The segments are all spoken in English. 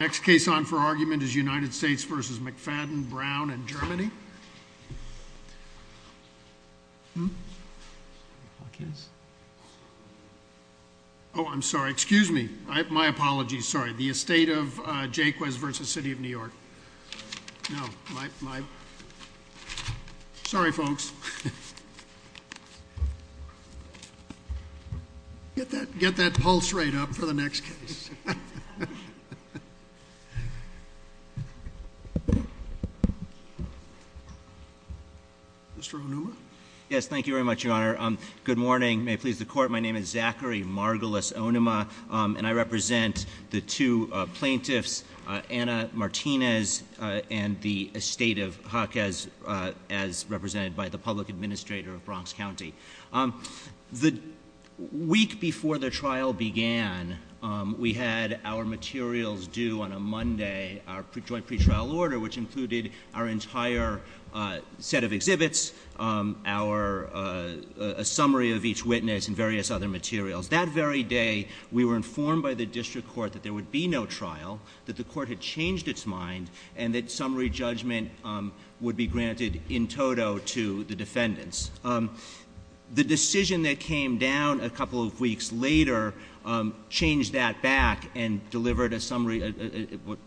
Next case on for argument is United States versus McFadden, Brown and Germany. Oh, I'm sorry. Excuse me. My apologies. Sorry. The Estate of Jaquez versus City of New York. No, my, my. Sorry, folks. Get that, get that pulse rate up for the next case. Mr. Onuma. Yes, thank you very much, Your Honor. Good morning. May it please the Court. My name is Zachary Margolis Onuma. And I represent the two plaintiffs, Anna Martinez and the Estate of Jaquez, as represented by the Public Administrator of Bronx County. The week before the trial began, we had our materials due on a Monday. Our joint pretrial order, which included our entire set of exhibits, our, a summary of each witness and various other materials. That very day, we were informed by the district court that there would be no trial, that the court had changed its mind, and that summary judgment would be granted in toto to the defendants. The decision that came down a couple of weeks later changed that back and delivered a summary,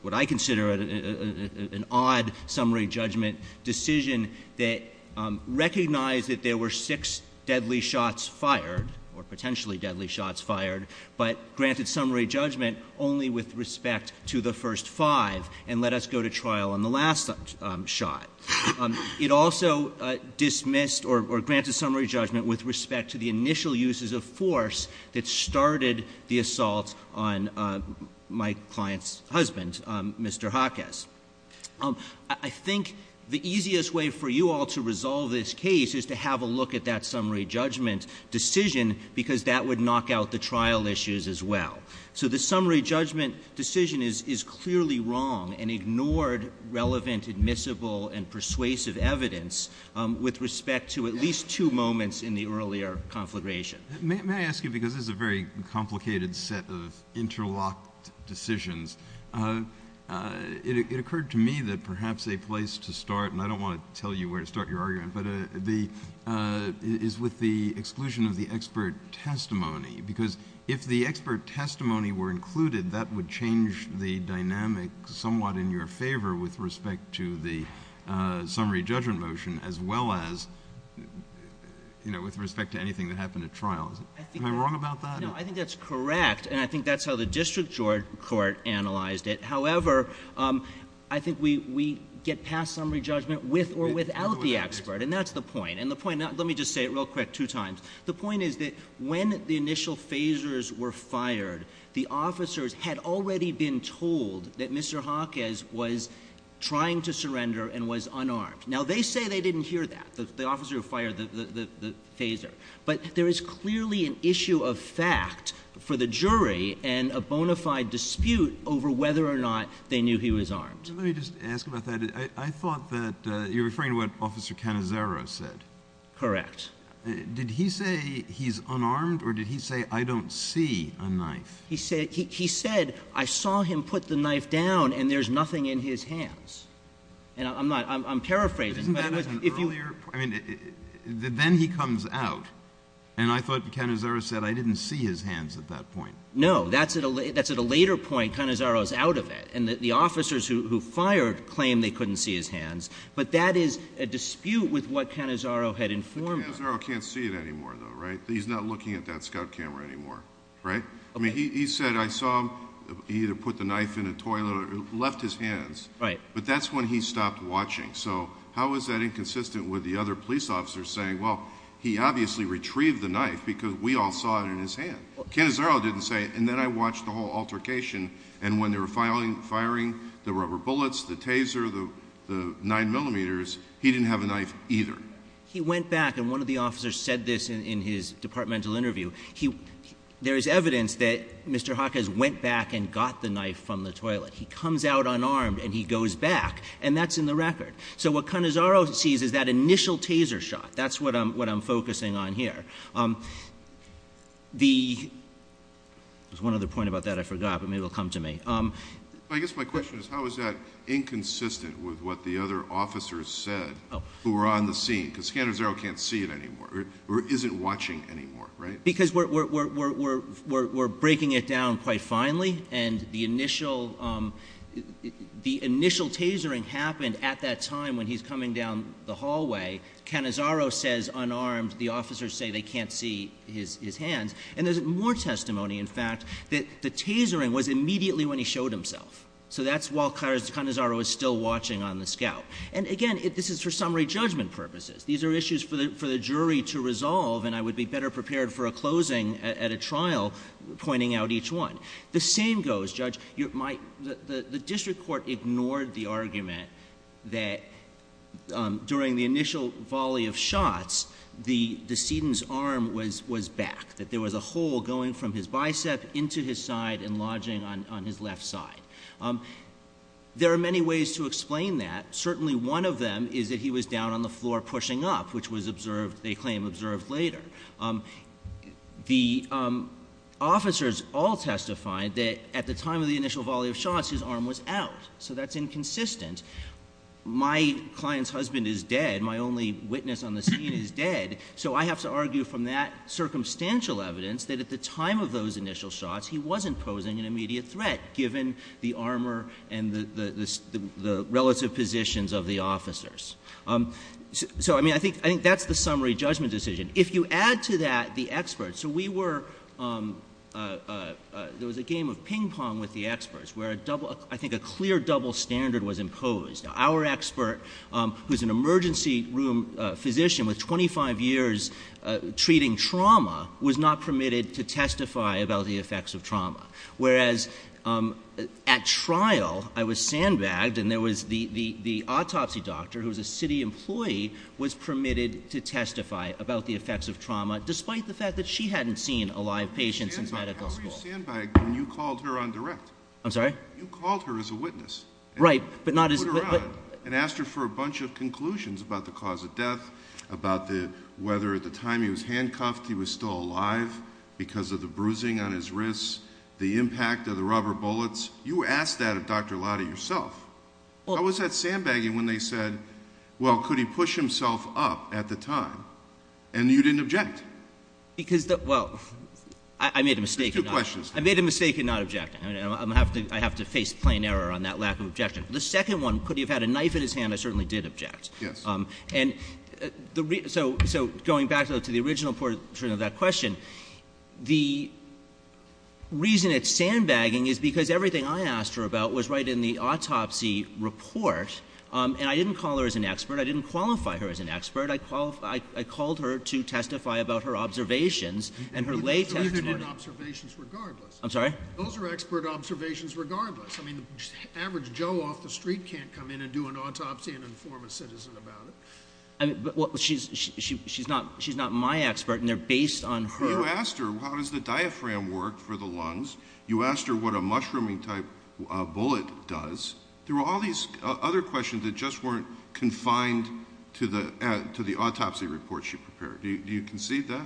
what I consider an odd summary judgment decision that recognized that there were six deadly shots fired, or potentially deadly shots fired, but granted summary judgment only with respect to the first five and let us go to trial on the last shot. It also dismissed or granted summary judgment with respect to the initial uses of force that started the assault on my client's husband, Mr. Jaquez. I think the easiest way for you all to resolve this case is to have a look at that summary judgment decision, because that would knock out the trial issues as well. So the summary judgment decision is clearly wrong and ignored relevant, admissible, and persuasive evidence with respect to at least two moments in the earlier conflagration. May I ask you, because this is a very complicated set of interlocked decisions, it occurred to me that perhaps a place to start, and I don't want to tell you where to start your argument, but it is with the exclusion of the expert testimony. Because if the expert testimony were included, that would change the dynamic somewhat in your favor with respect to the summary judgment motion as well as, you know, with respect to anything that happened at trial. Am I wrong about that? No, I think that's correct, and I think that's how the district court analyzed it. However, I think we get past summary judgment with or without the expert, and that's the point. And the point, let me just say it real quick two times. The point is that when the initial phasers were fired, the officers had already been told that Mr. Hawkes was trying to surrender and was unarmed. Now, they say they didn't hear that, the officer who fired the phaser. But there is clearly an issue of fact for the jury and a bona fide dispute over whether or not they knew he was armed. Let me just ask about that. I thought that you're referring to what Officer Cannizzaro said. Correct. Did he say he's unarmed, or did he say, I don't see a knife? He said, I saw him put the knife down, and there's nothing in his hands. And I'm paraphrasing. Isn't that at an earlier point? Then he comes out, and I thought Cannizzaro said, I didn't see his hands at that point. No, that's at a later point, Cannizzaro's out of it. And the officers who fired claimed they couldn't see his hands. But that is a dispute with what Cannizzaro had informed them. Cannizzaro can't see it anymore, though, right? He's not looking at that scout camera anymore, right? I mean, he said, I saw him either put the knife in a toilet or left his hands. Right. But that's when he stopped watching. So how is that inconsistent with the other police officers saying, well, he obviously retrieved the knife because we all saw it in his hand. Cannizzaro didn't say, and then I watched the whole altercation. And when they were firing the rubber bullets, the taser, the 9 millimeters, he didn't have a knife either. He went back, and one of the officers said this in his departmental interview. There is evidence that Mr. Jaquez went back and got the knife from the toilet. He comes out unarmed, and he goes back, and that's in the record. So what Cannizzaro sees is that initial taser shot. That's what I'm focusing on here. There's one other point about that I forgot, but maybe it will come to me. I guess my question is, how is that inconsistent with what the other officers said who were on the scene? Because Cannizzaro can't see it anymore or isn't watching anymore, right? Because we're breaking it down quite finely, and the initial tasering happened at that time when he's coming down the hallway. Cannizzaro says unarmed. The officers say they can't see his hands. And there's more testimony, in fact, that the tasering was immediately when he showed himself. So that's while Cannizzaro was still watching on the scout. And again, this is for summary judgment purposes. These are issues for the jury to resolve, and I would be better prepared for a closing at a trial pointing out each one. The same goes, Judge, the district court ignored the argument that during the initial volley of shots, the decedent's arm was back. That there was a hole going from his bicep into his side and lodging on his left side. There are many ways to explain that. Certainly one of them is that he was down on the floor pushing up, which was observed, they claim, observed later. The officers all testified that at the time of the initial volley of shots, his arm was out. So that's inconsistent. My client's husband is dead. My only witness on the scene is dead. So I have to argue from that circumstantial evidence that at the time of those initial shots, he wasn't posing an immediate threat, given the armor and the relative positions of the officers. So, I mean, I think that's the summary judgment decision. If you add to that the experts, so we were, there was a game of ping pong with the experts, where I think a clear double standard was imposed. Our expert, who's an emergency room physician with 25 years treating trauma, was not permitted to testify about the effects of trauma. Whereas at trial, I was sandbagged, and there was the autopsy doctor, who was a city employee, was permitted to testify about the effects of trauma, despite the fact that she hadn't seen a live patient since medical school. How were you sandbagged when you called her on direct? I'm sorry? You called her as a witness. Right, but not as- And asked her for a bunch of conclusions about the cause of death, about whether at the time he was handcuffed he was still alive because of the bruising on his wrists, the impact of the rubber bullets. You asked that of Dr. Latta yourself. How was that sandbagging when they said, well, could he push himself up at the time, and you didn't object? Because, well, I made a mistake. There's two questions. I made a mistake in not objecting. I have to face plain error on that lack of objection. The second one, could he have had a knife in his hand, I certainly did object. Yes. And so going back to the original portion of that question, the reason it's sandbagging is because everything I asked her about was right in the autopsy report. And I didn't call her as an expert. I didn't qualify her as an expert. I called her to testify about her observations and her lay testimony. Those are expert observations regardless. I'm sorry? Those are expert observations regardless. I mean, the average Joe off the street can't come in and do an autopsy and inform a citizen about it. She's not my expert, and they're based on her. You asked her how does the diaphragm work for the lungs. You asked her what a mushrooming-type bullet does. There were all these other questions that just weren't confined to the autopsy report she prepared. Do you concede that?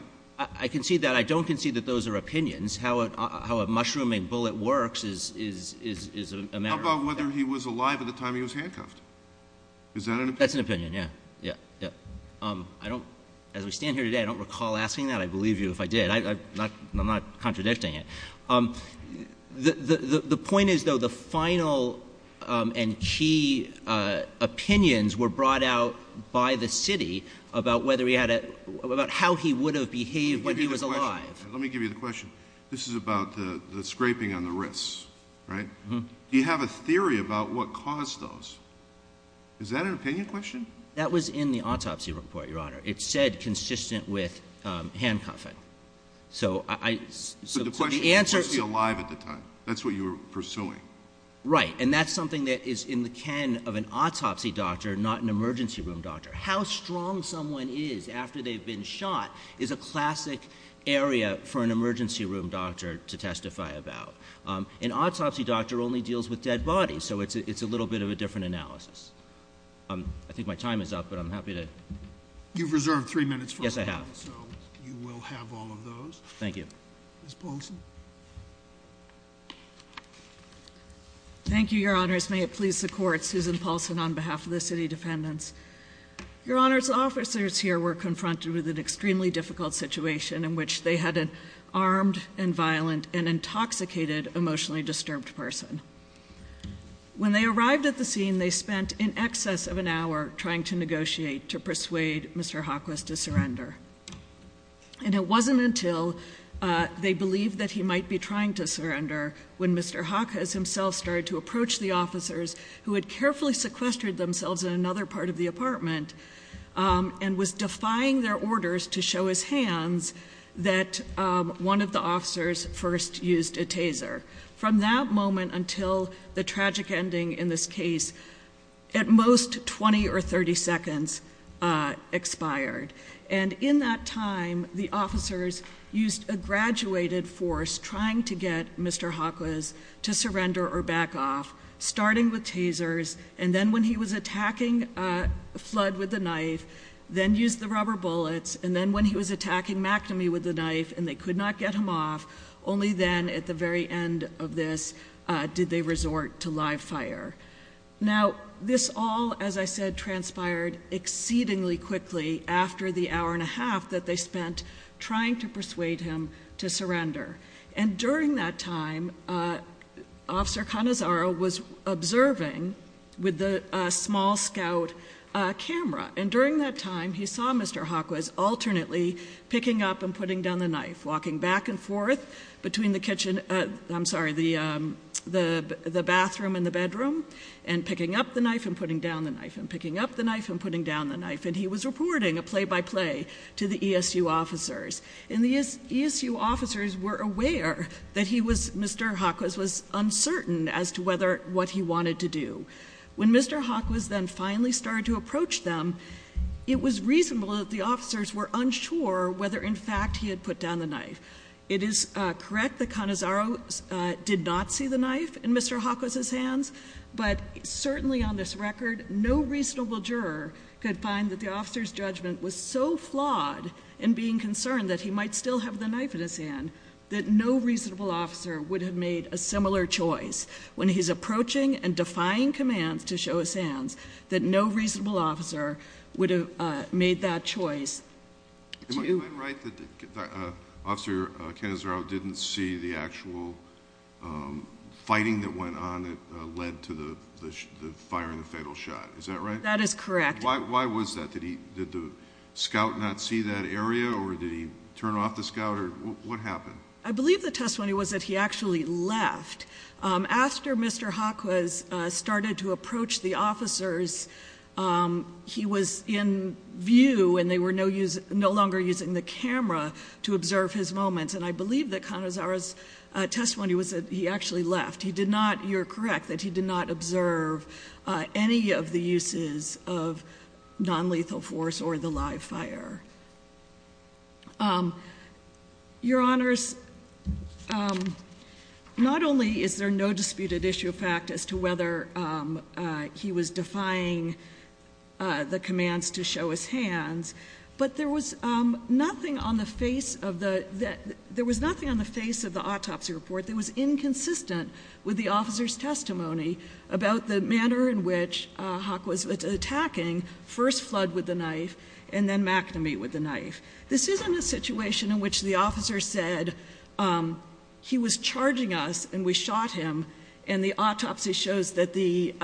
I concede that. I don't concede that those are opinions. How a mushrooming bullet works is a matter of opinion. How about whether he was alive at the time he was handcuffed? Is that an opinion? That's an opinion, yes. As we stand here today, I don't recall asking that. I believe you if I did. I'm not contradicting it. The point is, though, the final and key opinions were brought out by the city about how he would have behaved when he was alive. Let me give you the question. This is about the scraping on the wrists, right? Do you have a theory about what caused those? Is that an opinion question? That was in the autopsy report, Your Honor. It said consistent with handcuffing. So the question is, was he alive at the time? That's what you were pursuing. Right. And that's something that is in the ken of an autopsy doctor, not an emergency room doctor. How strong someone is after they've been shot is a classic area for an emergency room doctor to testify about. An autopsy doctor only deals with dead bodies. So it's a little bit of a different analysis. I think my time is up, but I'm happy to. You've reserved three minutes. Yes, I have. So you will have all of those. Thank you. Ms. Paulson. Thank you, Your Honors. May it please the court. Susan Paulson on behalf of the city defendants. Your Honors, officers here were confronted with an extremely difficult situation in which they had an armed and violent and intoxicated, emotionally disturbed person. When they arrived at the scene, they spent in excess of an hour trying to negotiate to persuade Mr. Hawkins himself started to approach the officers who had carefully sequestered themselves in another part of the apartment. And was defying their orders to show his hands that one of the officers first used a taser. From that moment until the tragic ending in this case, at most 20 or 30 seconds expired. And in that time, the officers used a graduated force trying to get Mr. Hawkins to surrender or back off, starting with tasers. And then when he was attacking Flood with a knife, then used the rubber bullets. And then when he was attacking McNamee with a knife and they could not get him off. Only then, at the very end of this, did they resort to live fire. Now, this all, as I said, transpired exceedingly quickly after the hour and a half that they spent trying to persuade him to surrender. And during that time, Officer Canazaro was observing with the small scout camera. And during that time, he saw Mr. Hawkins alternately picking up and putting down the knife. Walking back and forth between the kitchen, I'm sorry, the bathroom and the bedroom. And picking up the knife and putting down the knife, and picking up the knife and putting down the knife. And he was reporting a play by play to the ESU officers. And the ESU officers were aware that Mr. Hawkins was uncertain as to what he wanted to do. When Mr. Hawkins then finally started to approach them, it was reasonable that the officers were unsure whether in fact he had put down the knife. It is correct that Canazaro did not see the knife in Mr. Hawkins' hands. But certainly on this record, no reasonable juror could find that the officer's judgment was so flawed in being concerned that he might still have the knife in his hand, that no reasonable officer would have made a similar choice. When he's approaching and defying commands to show his hands, that no reasonable officer would have made that choice. Am I right that Officer Canazaro didn't see the actual fighting that went on that led to the fire and the fatal shot? Is that right? That is correct. Why was that? Did the scout not see that area or did he turn off the scout? What happened? I believe the testimony was that he actually left. After Mr. Hawkins started to approach the officers, he was in view and they were no longer using the camera to observe his moments. And I believe that Canazaro's testimony was that he actually left. He did not, you're correct, that he did not observe any of the uses of nonlethal force or the live fire. Your Honors, not only is there no disputed issue of fact as to whether he was defying the commands to show his hands, but there was nothing on the face of the autopsy report that was inconsistent with the officer's testimony about the manner in which Hawk was attacking, first Flood with the knife and then McNamee with the knife. This isn't a situation in which the officer said he was charging us and we shot him and the autopsy shows that the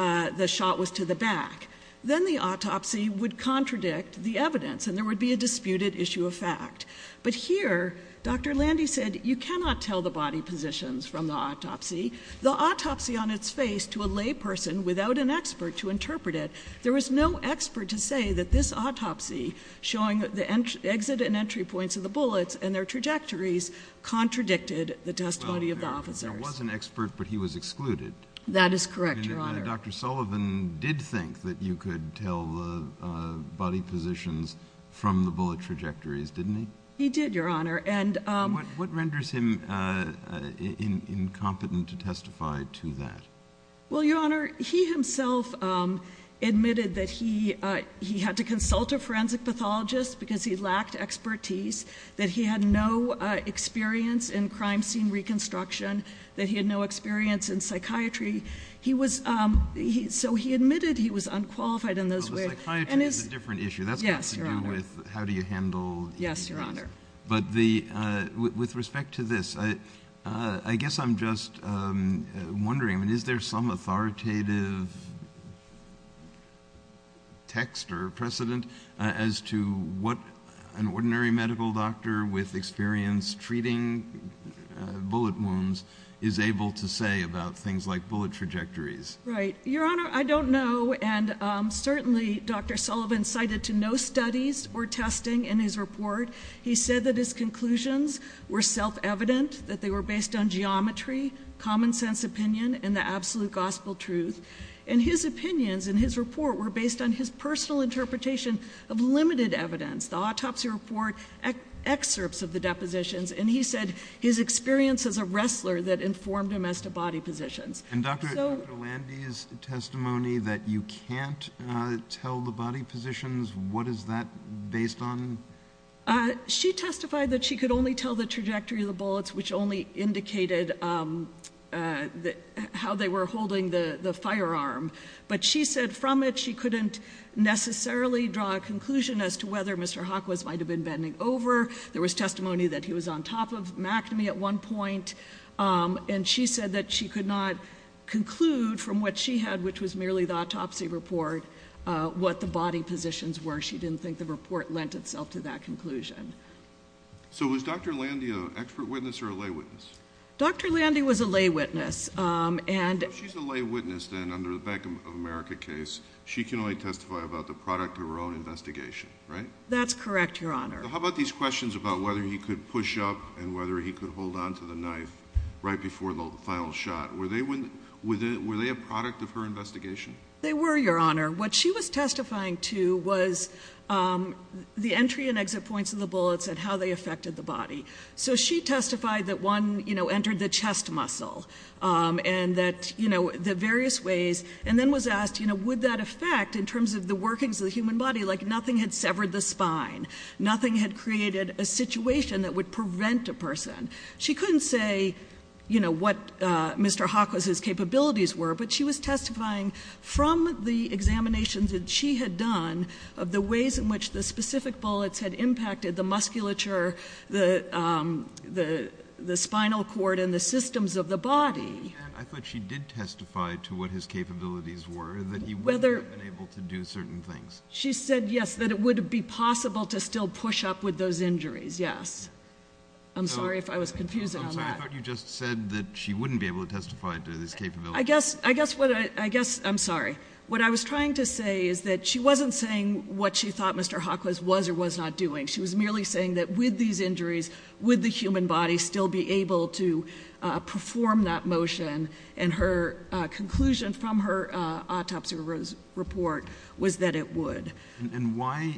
shot was to the back. Then the autopsy would contradict the evidence and there would be a disputed issue of fact. But here, Dr. Landy said you cannot tell the body positions from the autopsy. The autopsy on its face to a lay person without an expert to interpret it, there was no expert to say that this autopsy showing the exit and entry points of the bullets and their trajectories contradicted the testimony of the officers. There was an expert but he was excluded. That is correct, Your Honor. Dr. Sullivan did think that you could tell the body positions from the bullet trajectories, didn't he? He did, Your Honor. What renders him incompetent to testify to that? Well, Your Honor, he himself admitted that he had to consult a forensic pathologist because he lacked expertise, that he had no experience in crime scene reconstruction, that he had no experience in psychiatry. So he admitted he was unqualified in those ways. Psychiatry is a different issue. That's got to do with how do you handle injuries. Yes, Your Honor. But with respect to this, I guess I'm just wondering, is there some authoritative text or precedent as to what an ordinary medical doctor with experience treating bullet wounds is able to say about things like bullet trajectories? Right. Your Honor, I don't know. And certainly Dr. Sullivan cited to no studies or testing in his report. He said that his conclusions were self-evident, that they were based on geometry, common sense opinion, and the absolute gospel truth. And his opinions in his report were based on his personal interpretation of limited evidence, the autopsy report, excerpts of the depositions. And he said his experience as a wrestler that informed him as to body positions. And Dr. Landy's testimony that you can't tell the body positions, what is that based on? She testified that she could only tell the trajectory of the bullets, which only indicated how they were holding the firearm. But she said from it she couldn't necessarily draw a conclusion as to whether Mr. Hockwas might have been bending over. There was testimony that he was on top of mactamy at one point. And she said that she could not conclude from what she had, which was merely the autopsy report, what the body positions were. She didn't think the report lent itself to that conclusion. So was Dr. Landy an expert witness or a lay witness? Dr. Landy was a lay witness. If she's a lay witness then under the Bank of America case, she can only testify about the product of her own investigation, right? That's correct, Your Honor. How about these questions about whether he could push up and whether he could hold on to the knife right before the final shot? Were they a product of her investigation? They were, Your Honor. What she was testifying to was the entry and exit points of the bullets and how they affected the body. So she testified that one entered the chest muscle and the various ways and then was asked would that affect in terms of the workings of the human body, like nothing had severed the spine. Nothing had created a situation that would prevent a person. She couldn't say, you know, what Mr. Hawkins's capabilities were, but she was testifying from the examinations that she had done of the ways in which the specific bullets had impacted the musculature, the spinal cord and the systems of the body. And I thought she did testify to what his capabilities were, that he would have been able to do certain things. She said, yes, that it would be possible to still push up with those injuries, yes. I'm sorry if I was confusing on that. I'm sorry. I thought you just said that she wouldn't be able to testify to his capabilities. I guess I'm sorry. What I was trying to say is that she wasn't saying what she thought Mr. Hawkins was or was not doing. She was merely saying that with these injuries, would the human body still be able to perform that motion? And her conclusion from her autopsy report was that it would. And why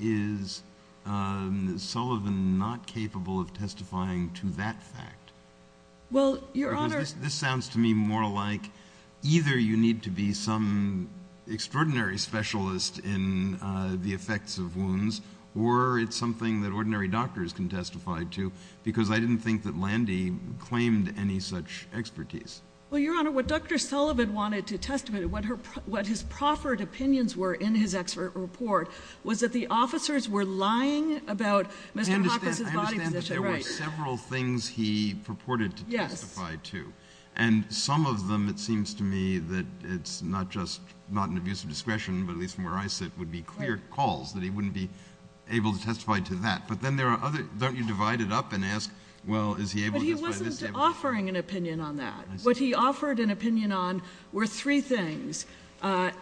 is Sullivan not capable of testifying to that fact? Well, Your Honor – Because this sounds to me more like either you need to be some extraordinary specialist in the effects of wounds or it's something that ordinary doctors can testify to, because I didn't think that Landy claimed any such expertise. Well, Your Honor, what Dr. Sullivan wanted to testify to, what his proffered opinions were in his expert report, was that the officers were lying about Mr. Hawkins' body position. I understand that there were several things he purported to testify to. And some of them, it seems to me, that it's not just not an abuse of discretion, but at least from where I sit, would be clear calls that he wouldn't be able to testify to that. But then there are others. Don't you divide it up and ask, well, is he able to testify to this? But he wasn't offering an opinion on that. What he offered an opinion on were three things,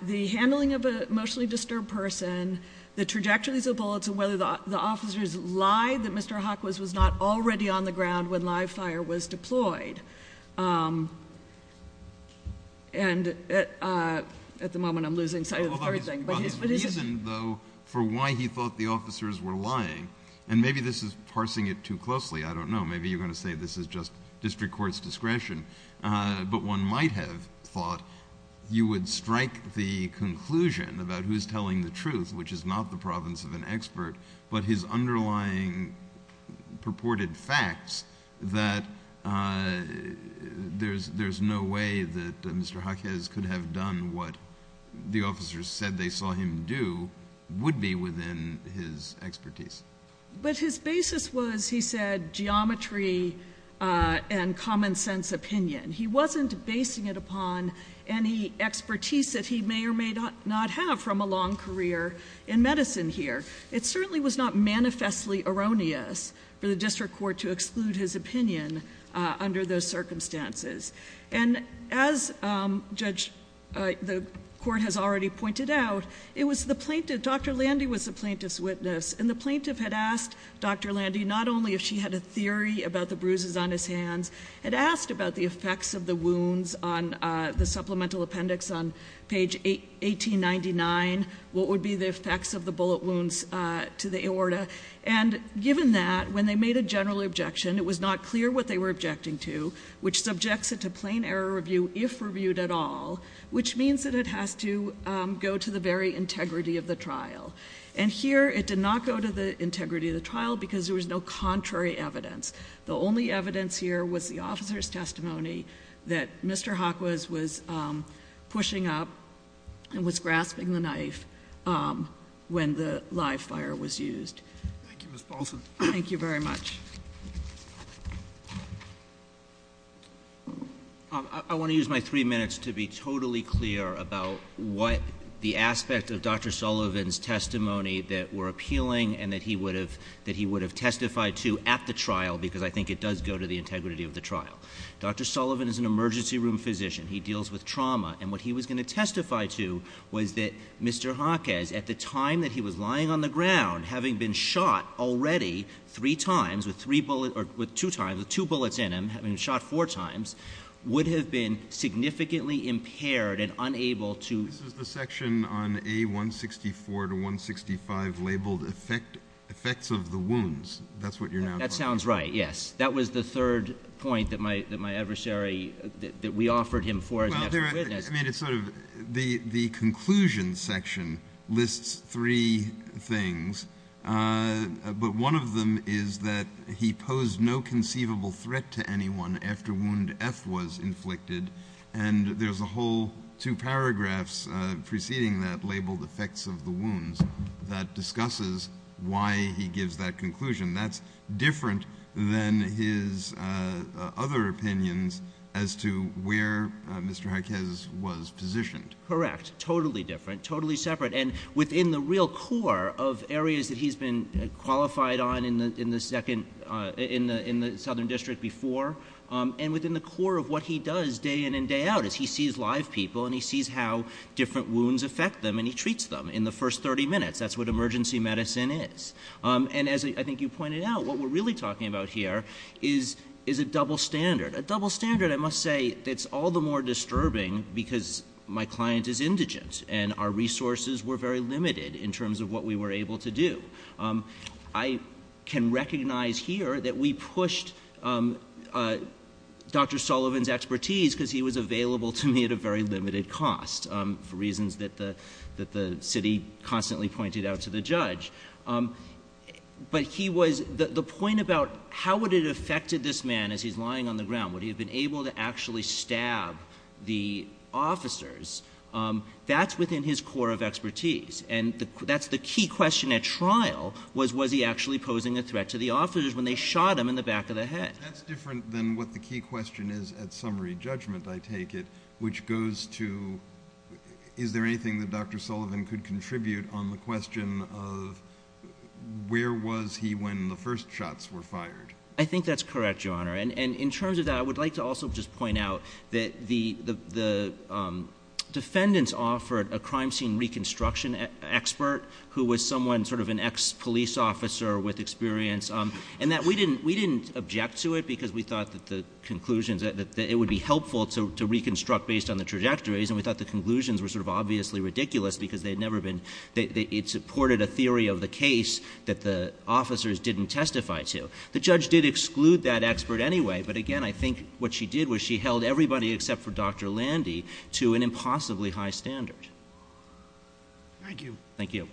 the handling of an emotionally disturbed person, the trajectories of bullets, and whether the officers lied that Mr. Hawkins was not already on the ground when live fire was deployed. And at the moment I'm losing sight of everything. But his reason, though, for why he thought the officers were lying, and maybe this is parsing it too closely, I don't know, maybe you're going to say this is just district court's discretion, but one might have thought you would strike the conclusion about who's telling the truth, which is not the province of an expert, but his underlying purported facts that there's no way that Mr. Hawkins could have done what the officers said they saw him do would be within his expertise. But his basis was, he said, geometry and common sense opinion. He wasn't basing it upon any expertise that he may or may not have from a long career in medicine here. It certainly was not manifestly erroneous for the district court to exclude his opinion under those circumstances. And as Judge, the court has already pointed out, it was the plaintiff, Dr. Landy was the plaintiff's witness, and the plaintiff had asked Dr. Landy not only if she had a theory about the bruises on his hands, had asked about the effects of the wounds on the supplemental appendix on page 1899, what would be the effects of the bullet wounds to the aorta. And given that, when they made a general objection, it was not clear what they were objecting to, which subjects it to plain error review if reviewed at all, which means that it has to go to the very integrity of the trial. And here, it did not go to the integrity of the trial because there was no contrary evidence. The only evidence here was the officer's testimony that Mr. Hawkins was pushing up and was grasping the knife when the live fire was used. Thank you, Ms. Paulson. Thank you very much. I want to use my three minutes to be totally clear about what the aspect of Dr. Sullivan's testimony that were appealing and that he would have testified to at the trial, because I think it does go to the integrity of the trial. Dr. Sullivan is an emergency room physician. He deals with trauma, and what he was going to testify to was that Mr. Hawkins, having been shot already three times with two bullets in him, having been shot four times, would have been significantly impaired and unable to This is the section on A164 to 165 labeled effects of the wounds. That's what you're now talking about. That sounds right, yes. That was the third point that my adversary, that we offered him for as an expert witness. I mean, it's sort of the conclusion section lists three things, but one of them is that he posed no conceivable threat to anyone after wound F was inflicted. And there's a whole two paragraphs preceding that labeled effects of the wounds that discusses why he gives that conclusion. That's different than his other opinions as to where Mr. Harkez was positioned. Correct. Totally different. Totally separate. And within the real core of areas that he's been qualified on in the Southern District before, and within the core of what he does day in and day out is he sees live people and he sees how different wounds affect them and he treats them in the first 30 minutes. That's what emergency medicine is. And as I think you pointed out, what we're really talking about here is a double standard. A double standard, I must say, that's all the more disturbing because my client is indigent and our resources were very limited in terms of what we were able to do. I can recognize here that we pushed Dr. Sullivan's expertise because he was available to me at a very limited cost for reasons that the city constantly pointed out to the judge. But the point about how would it affect this man as he's lying on the ground, would he have been able to actually stab the officers, that's within his core of expertise. And that's the key question at trial was was he actually posing a threat to the officers when they shot him in the back of the head. That's different than what the key question is at summary judgment, I take it, which goes to is there anything that Dr. Sullivan could contribute on the question of where was he when the first shots were fired? I think that's correct, Your Honor. And in terms of that, I would like to also just point out that the defendants offered a crime scene reconstruction expert who was someone sort of an ex-police officer with experience and that we didn't object to it because we thought that the conclusions, that it would be helpful to reconstruct based on the trajectories and we thought the conclusions were sort of obviously ridiculous because they had never been, it supported a theory of the case that the officers didn't testify to. The judge did exclude that expert anyway, but again, I think what she did was she held everybody except for Dr. Landy to an impossibly high standard. Thank you. Thank you.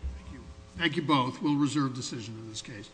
Thank you both. We'll reserve decision in this case.